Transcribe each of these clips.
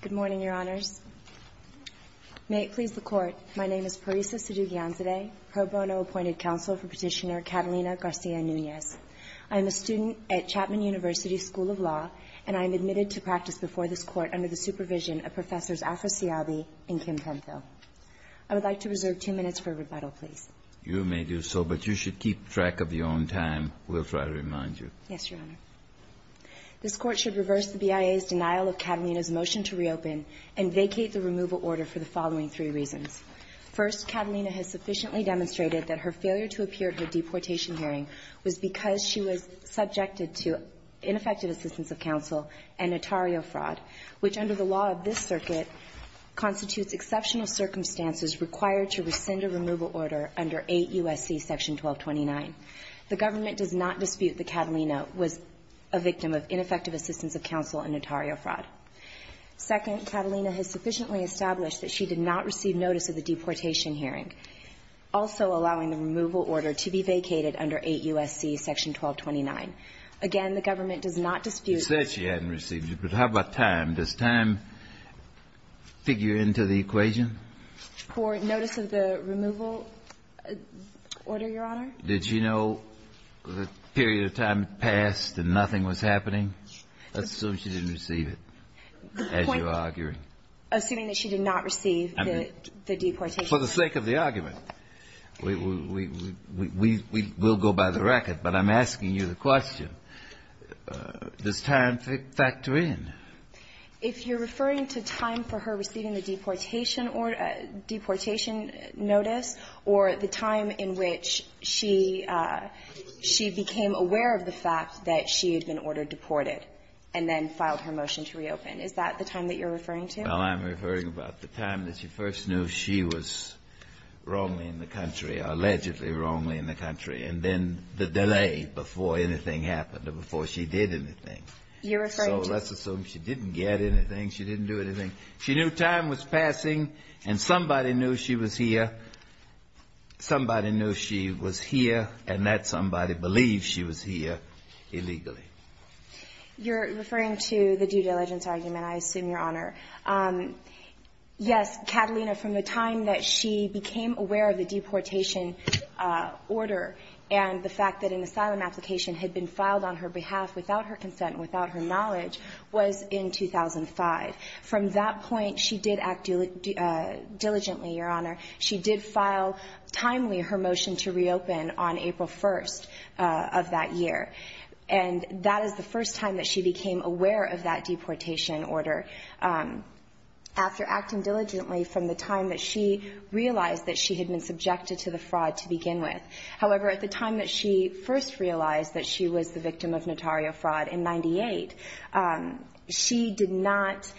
Good morning, Your Honors. May it please the Court, my name is Parisa Sidhu Gyanzadeh, pro bono appointed counsel for Petitioner Catalina Garcia Nunez. I am a student at Chapman University School of Law, and I am admitted to practice before this Court under the supervision of Professors Afrasiabi and Kim Penfield. I would like to reserve two minutes for rebuttal, please. You may do so, but you should keep track of your own time, Wilfred, I remind you. Yes, Your Honor. This Court should reverse the BIA's denial of Catalina's motion to reopen and vacate the removal order for the following three reasons. First, Catalina has sufficiently demonstrated that her failure to appear at her deportation hearing was because she was subjected to ineffective assistance of counsel and notario fraud, which under the law of this circuit constitutes exceptional circumstances required to rescind a removal order under 8 U.S.C. § 1229. The government does not dispute that Catalina was a victim of ineffective assistance of counsel and notario fraud. Second, Catalina has sufficiently established that she did not receive notice of the deportation hearing, also allowing the removal order to be vacated under 8 U.S.C. § 1229. Again, the government does not dispute that. You said she hadn't received it, but how about time? Does time figure into the equation? For notice of the removal order, Your Honor? Did she know the period of time passed and nothing was happening? Assume she didn't receive it as you're arguing. Assuming that she did not receive the deportation hearing. For the sake of the argument, we will go by the record, but I'm asking you the question, does time factor in? If you're referring to time for her receiving the deportation notice or the time in which she became aware of the fact that she had been ordered deported and then filed her motion to reopen, is that the time that you're referring to? Well, I'm referring about the time that she first knew she was wrongly in the country, allegedly wrongly in the country, and then the delay before anything happened or before she did anything. You're referring to? So let's assume she didn't get anything, she didn't do anything. She knew time was passing and somebody knew she was here. Somebody knew she was here and that somebody believed she was here illegally. You're referring to the due diligence argument, I assume, Your Honor. Yes, Catalina, from the time that she became aware of the deportation order and the fact that an asylum application had been filed on her behalf without her consent, without her knowledge, was in 2005. From that point, she did act diligently, Your Honor. She did file timely her motion to reopen on April 1st of that year. And that is the first time that she became aware of that deportation order. After acting diligently from the time that she realized that she had been subjected to the fraud to begin with. However, at the time that she first realized that she was the victim of notario fraud in 98, she did not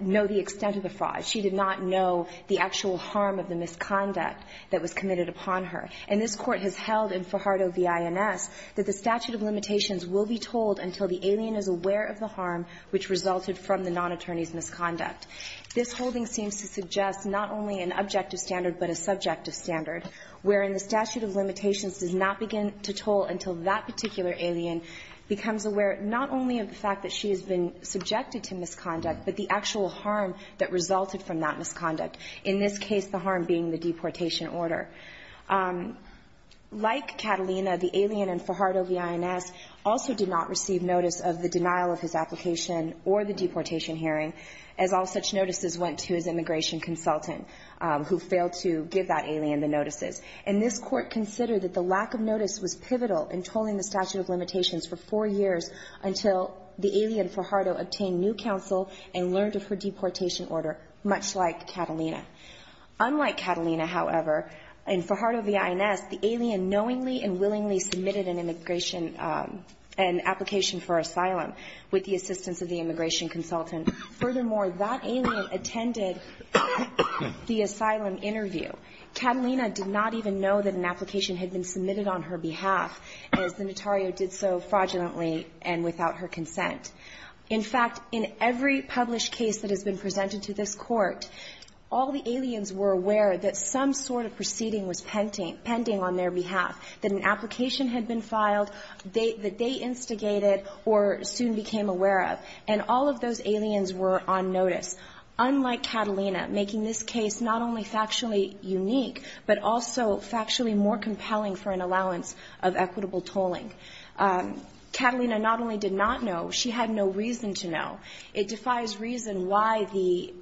know the extent of the fraud. She did not know the actual harm of the misconduct that was committed upon her. And this Court has held in Fajardo v. INS that the statute of limitations will be told until the alien is aware of the harm which resulted from the non-attorney's misconduct. This holding seems to suggest not only an objective standard, but a subjective standard, wherein the statute of limitations does not begin to toll until that particular alien becomes aware not only of the fact that she has been subjected to misconduct, but the actual harm that resulted from that misconduct. In this case, the harm being the deportation order. Like Catalina, the alien in Fajardo v. INS also did not receive notice of the denial of his application or the deportation hearing, as all such notices went to his non-alien, the notices. And this Court considered that the lack of notice was pivotal in tolling the statute of limitations for four years until the alien Fajardo obtained new counsel and learned of her deportation order, much like Catalina. Unlike Catalina, however, in Fajardo v. INS, the alien knowingly and willingly submitted an immigration, an application for asylum with the assistance of the immigration consultant. Furthermore, that alien attended the asylum interview. Catalina did not even know that an application had been submitted on her behalf, as the notario did so fraudulently and without her consent. In fact, in every published case that has been presented to this Court, all the aliens were aware that some sort of proceeding was pending on their behalf, that an application had been filed, that they instigated or soon became aware of. And all of those aliens were on notice, unlike Catalina, making this case not only factually unique, but also factually more compelling for an allowance of equitable tolling. Catalina not only did not know, she had no reason to know. It defies reason why the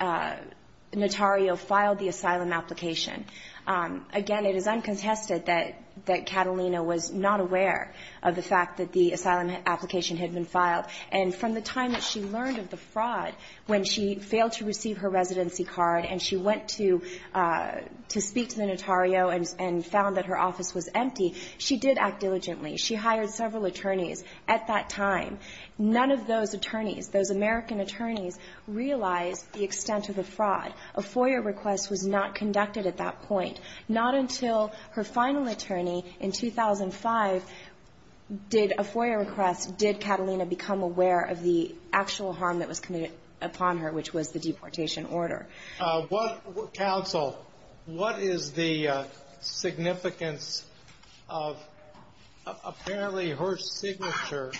notario filed the asylum application. Again, it is uncontested that Catalina was not aware of the fact that the asylum application had been filed. And from the time that she learned of the fraud, when she failed to receive her residency card and she went to speak to the notario and found that her office was empty, she did act diligently. She hired several attorneys at that time. None of those attorneys, those American attorneys, realized the extent of the fraud. A FOIA request was not conducted at that point. Not until her final attorney in 2005 did a FOIA request, did Catalina become aware of the actual harm that was committed upon her, which was the deportation order. What, counsel, what is the significance of apparently her signature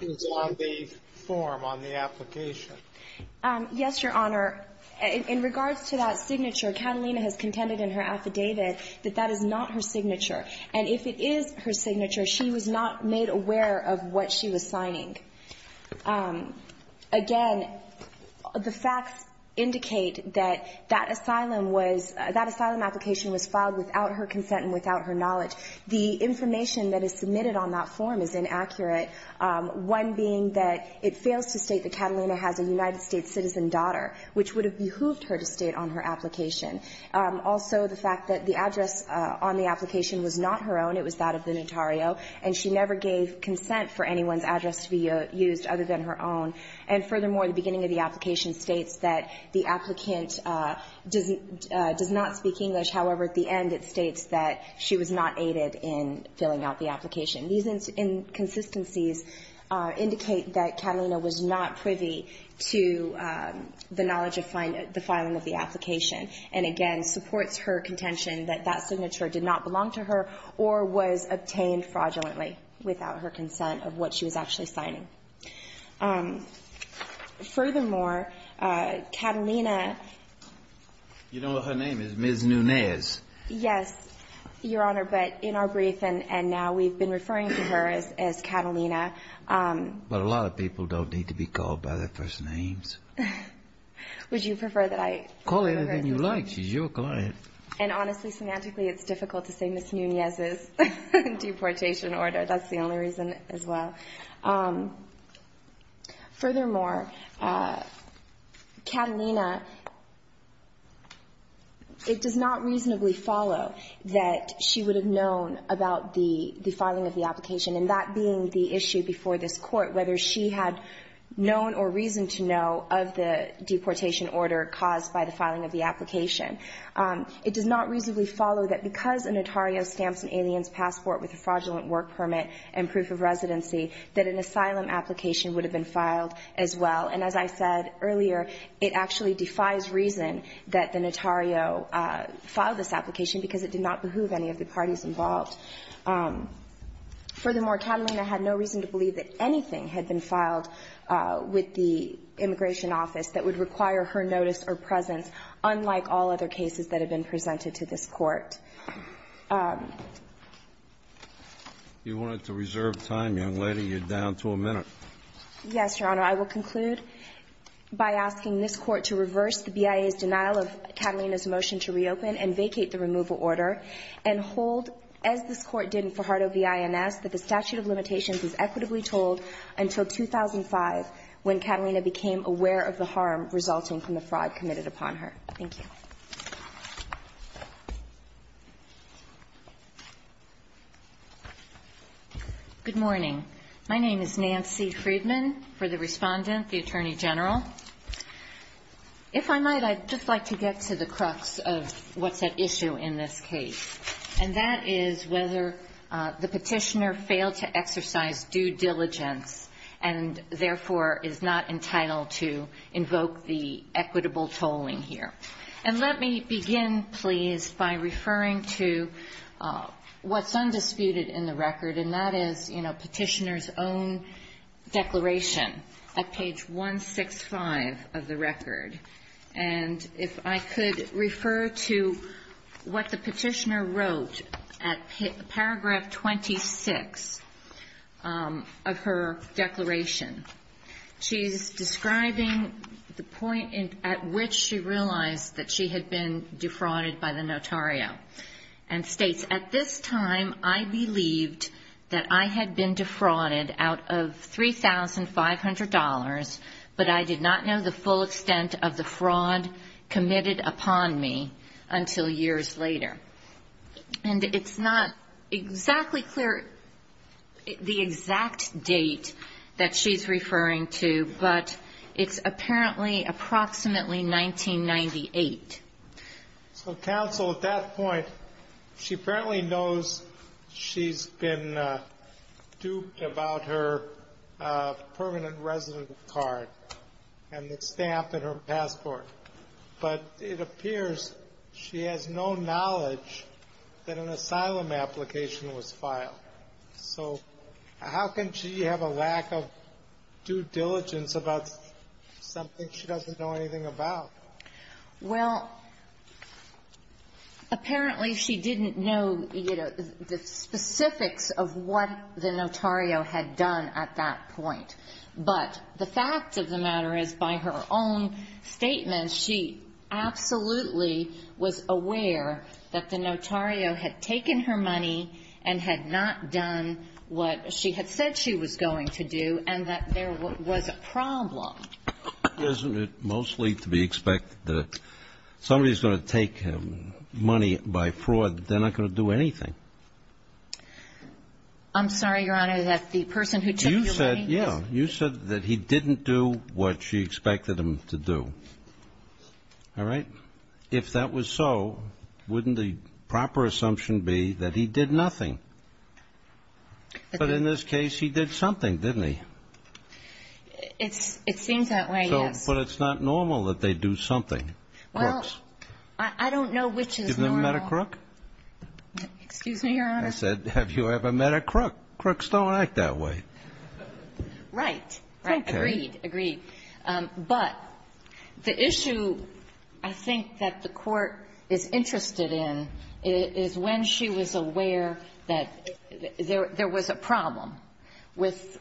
is on the form, on the application? Yes, Your Honor. In regards to that signature, Catalina has contended in her affidavit that that is not her signature. And if it is her signature, she was not made aware of what she was signing. Again, the facts indicate that that asylum was, that asylum application was filed without her consent and without her knowledge. The information that is submitted on that form is inaccurate, one being that it fails to state that Catalina was a United States citizen daughter, which would have behooved her to state on her application. Also, the fact that the address on the application was not her own. It was that of the notario. And she never gave consent for anyone's address to be used other than her own. And furthermore, the beginning of the application states that the applicant does not speak English. However, at the end, it states that she was not aided in filling out the application. These inconsistencies indicate that Catalina was not privy to the knowledge of the filing of the application, and, again, supports her contention that that signature did not belong to her or was obtained fraudulently without her consent of what she was actually signing. Furthermore, Catalina ---- You know what her name is, Ms. Nunez. Yes, Your Honor, but in our brief and now we've been referring to her as Catalina. But a lot of people don't need to be called by their first names. Would you prefer that I call her? Call her anything you like. She's your client. And honestly, semantically, it's difficult to say Ms. Nunez's deportation order. That's the only reason as well. Furthermore, Catalina, it does not reasonably follow that she would have known about the filing of the application, and that being the issue before this Court, whether she had known or reason to know of the deportation order caused by the filing of the application. It does not reasonably follow that because an notario stamps an alien's passport with a fraudulent work permit and proof of residency that an asylum application would have been filed as well. And as I said earlier, it actually defies reason that the notario filed this application because it did not behoove any of the parties involved. Furthermore, Catalina had no reason to believe that she would have known about the filing of the application, and that being the issue before this Court, whether she had known or reason to know of the filing of the application. You wanted to reserve time, young lady. You're down to a minute. Yes, Your Honor. I will conclude by asking this Court to reverse the BIA's denial of Catalina's motion to reopen and vacate the removal order and hold, as this Court did in Fajardo v. INS, that the statute of limitations is equitably told until 2005, when Catalina became aware of the harm resulting from the fraud committed upon her. Thank you. Good morning. My name is Nancy Friedman, for the Respondent, the Attorney General. If I might, I'd just like to get to the crux of what's at issue in this case, and that is whether the Petitioner failed to exercise due diligence and, therefore, is not entitled to invoke the equitable tolling here. And let me begin, please, by referring to what's undisputed in the record, and that is, you know, Petitioner's own declaration at page 165 of the record. And if I could refer to what the Petitioner wrote at paragraph 26 of her declaration. She's describing the point at which she realized that she had been defrauded by the notario, and states, at this time, I believed that I had been defrauded out of $3,500, but I did not know the full extent of the fraud committed upon me until years later. And it's not exactly clear the exact date that she's referring to, but it's apparently approximately 1998. So, counsel, at that point, she apparently knows she's been duped about her permanent resident card and the stamp in her passport. But it appears she has no knowledge that an asylum application was filed. So how can she have a lack of due diligence about something she doesn't know anything about? Well, apparently, she didn't know, you know, the specifics of what the notario had done at that point. But the fact of the matter is, by her own statement, she absolutely was aware that the notario had taken her money and had not done what she had said she was going to do, and that there was a problem. Isn't it mostly to be expected that somebody's going to take money by fraud, they're not going to do anything? I'm sorry, Your Honor, that the person who took your money was... You said that he didn't do what she expected him to do. All right? If that was so, wouldn't the proper assumption be that he did nothing? But in this case, he did something, didn't he? It seems that way, yes. But it's not normal that they do something, crooks. Well, I don't know which is normal. You've never met a crook? Excuse me, Your Honor. I said, have you ever met a crook? Crooks don't act that way. Right. Agreed. Agreed. But the issue I think that the Court is interested in is when she was aware that there was a problem with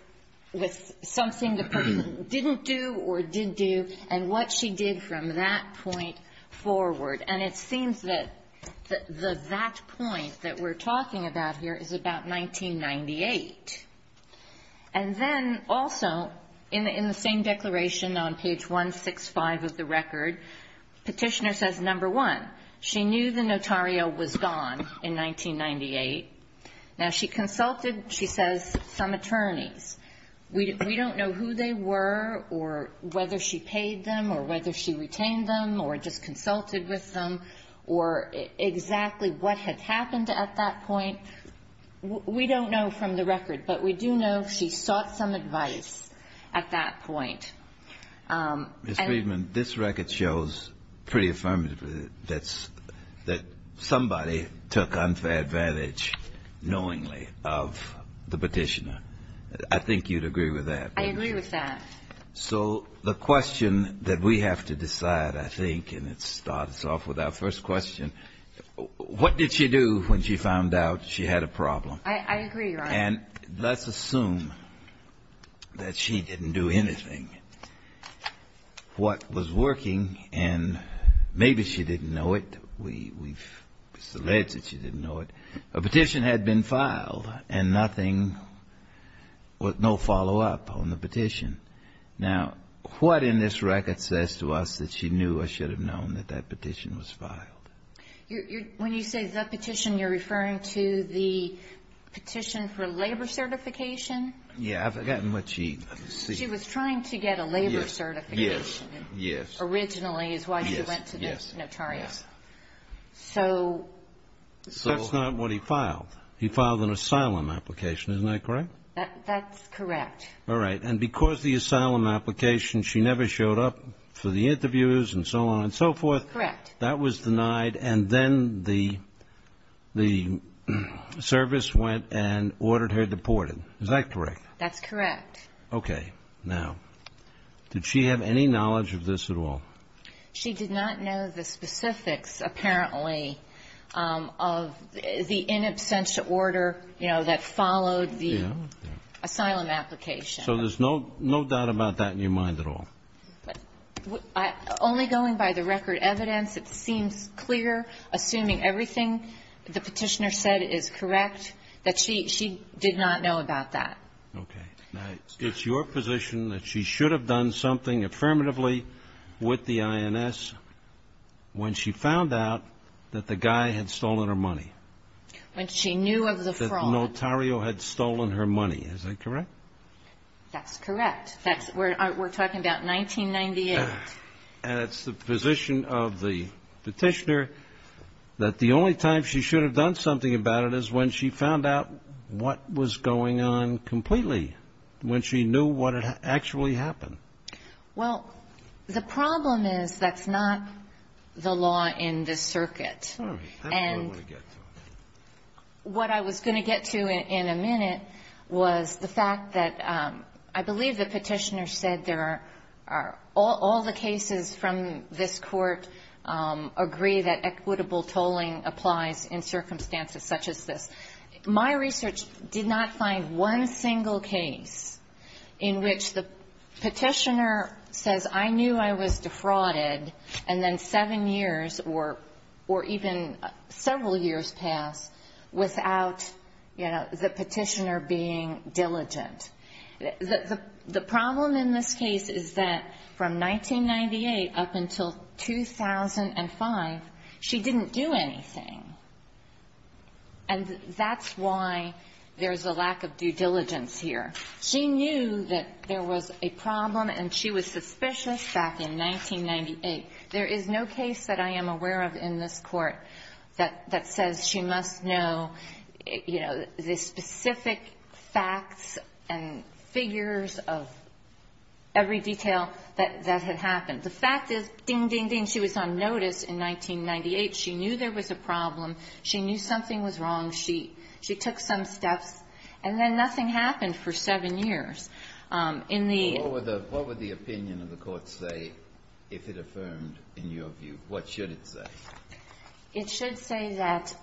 something the person didn't do or did do and what she did from that point forward. And it seems that that point that we're talking about here is about 1998. And then also, in the same declaration on page 165 of the record, Petitioner says, number one, she knew the notario was gone in 1998. Now, she consulted, she says, some attorneys. We don't know who they were or whether she paid them or whether she retained them or just consulted with them or exactly what had happened at that point. We don't know from the record. But we do know she sought some advice at that point. Ms. Friedman, this record shows pretty affirmatively that somebody took unfair advantage knowingly of the Petitioner. I think you'd agree with that. I agree with that. So the question that we have to decide, I think, and it starts off with our first question, what did she do when she found out she had a problem? I agree, Your Honor. And let's assume that she didn't do anything. What was working, and maybe she didn't know it. We've alleged that she didn't know it. A petition had been filed and nothing, no follow-up on the petition. Now, what in this record says to us that she knew or should have known that that petition was filed? When you say that petition, you're referring to the petition for labor certification? Yes. I've forgotten what she said. She was trying to get a labor certification. Yes. Originally is why she went to the notario. Yes. That's not what he filed. He filed an asylum application. Isn't that correct? That's correct. All right. And because the asylum application, she never showed up for the interviews and so on and so forth. Correct. That was denied and then the service went and ordered her deported. Is that correct? That's correct. Okay. Now, did she have any knowledge of this at all? She did not know the specifics, apparently, of the in absentia order, you know, that followed the asylum application. So there's no doubt about that in your mind at all? Only going by the record evidence, it seems clear, assuming everything the petitioner said is correct, that she did not know about that. Okay. Now, it's your position that she should have done something affirmatively with the INS when she found out that the guy had stolen her money? When she knew of the fraud. That the notario had stolen her money. Is that correct? That's correct. We're talking about 1998. And it's the position of the petitioner that the only time she should have done something about it is when she found out what was going on completely, when she knew what had actually happened. Well, the problem is that's not the law in this circuit. All right. That's what I want to get to. And what I was going to get to in a minute was the fact that I believe the petitioner said there are all the cases from this Court agree that equitable tolling applies in circumstances such as this. My research did not find one single case in which the petitioner says I knew I was defrauded and then seven years or even several years passed without, you know, the petitioner being diligent. The problem in this case is that from 1998 up until 2005, she didn't do anything. And that's why there's a lack of due diligence here. She knew that there was a problem, and she was suspicious back in 1998. There is no case that I am aware of in this Court that says she must know, you know, the specific facts and figures of every detail that had happened. The fact is, ding, ding, ding, she was on notice in 1998. She knew there was a problem. She knew something was wrong. She took some steps. And then nothing happened for seven years. In the ---- Breyer, what would the opinion of the Court say if it affirmed in your view? What should it say? It should say that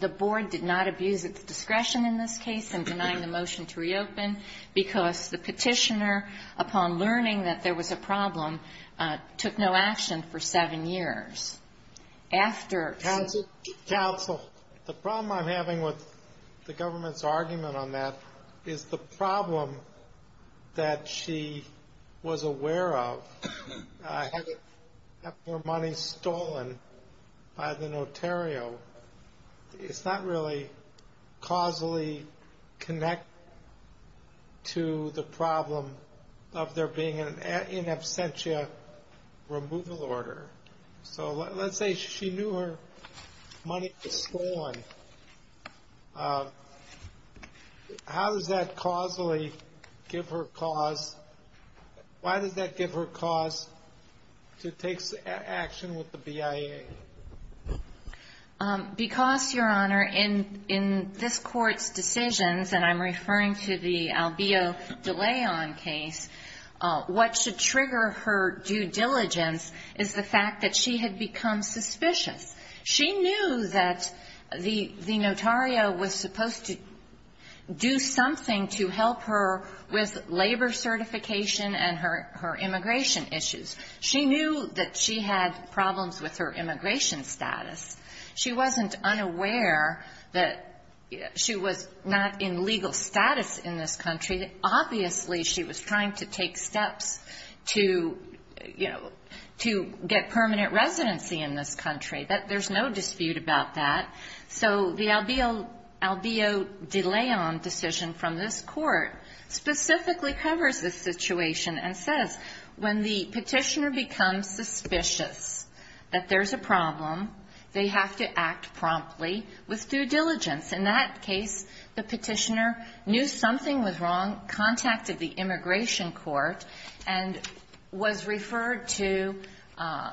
the Board did not abuse its discretion in this case in denying the motion to reopen because the petitioner, upon learning that there was a problem, took no action for seven years. Counsel, the problem I'm having with the government's argument on that is the problem that she was aware of, having her money stolen by the notario, it's not really causally connected to the problem of there being an in absentia removal order. So let's say she knew her money was stolen. How does that causally give her cause? Why does that give her cause to take action with the BIA? Because, Your Honor, in this Court's decisions, and I'm referring to the Albio de Leon case, what should trigger her due diligence is the fact that she had become suspicious. She knew that the notario was supposed to do something to help her with labor certification and her immigration issues. She knew that she had problems with her immigration status. She wasn't unaware that she was not in legal status in this country. Obviously, she was trying to take steps to, you know, to get permanent residency in this country. There's no dispute about that. So the Albio de Leon decision from this Court specifically covers this situation and says when the petitioner becomes suspicious that there's a problem, they have to act promptly with due diligence. In that case, the petitioner knew something was wrong, contacted the immigration court, and was referred to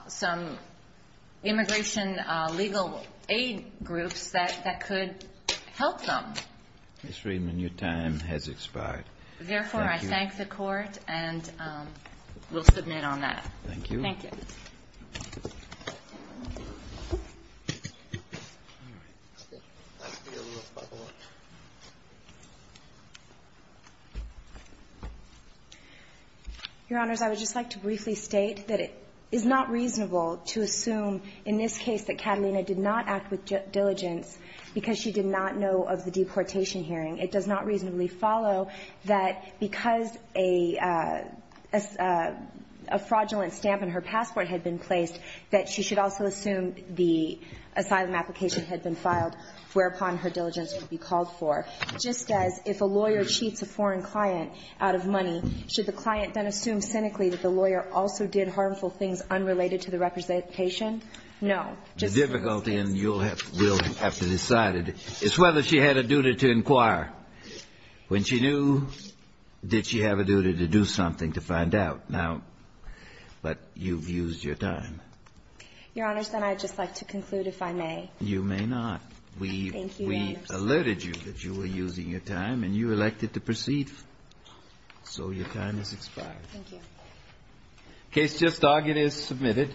some immigration legal aid groups that could help them. Mr. Friedman, your time has expired. Thank you. Therefore, I thank the Court and will submit on that. Thank you. Thank you. Your Honors, I would just like to briefly state that it is not reasonable to assume in this case that Catalina did not act with due diligence because she did not know of the deportation hearing. It does not reasonably follow that because a fraudulent stamp in her passport had been placed that she should also assume the asylum application had been filed whereupon her diligence would be called for, just as if a lawyer cheats a foreign client out of money, should the client then assume cynically that the lawyer also did harmful things unrelated to the representation? No. The difficulty, and you'll have to decide it, is whether she had a duty to inquire when she knew, did she have a duty to do something to find out. Now, but you've used your time. Your Honors, then I'd just like to conclude, if I may. You may not. Thank you, Your Honors. We alerted you that you were using your time, and you elected to proceed. So your time has expired. Thank you. Case just argued is submitted.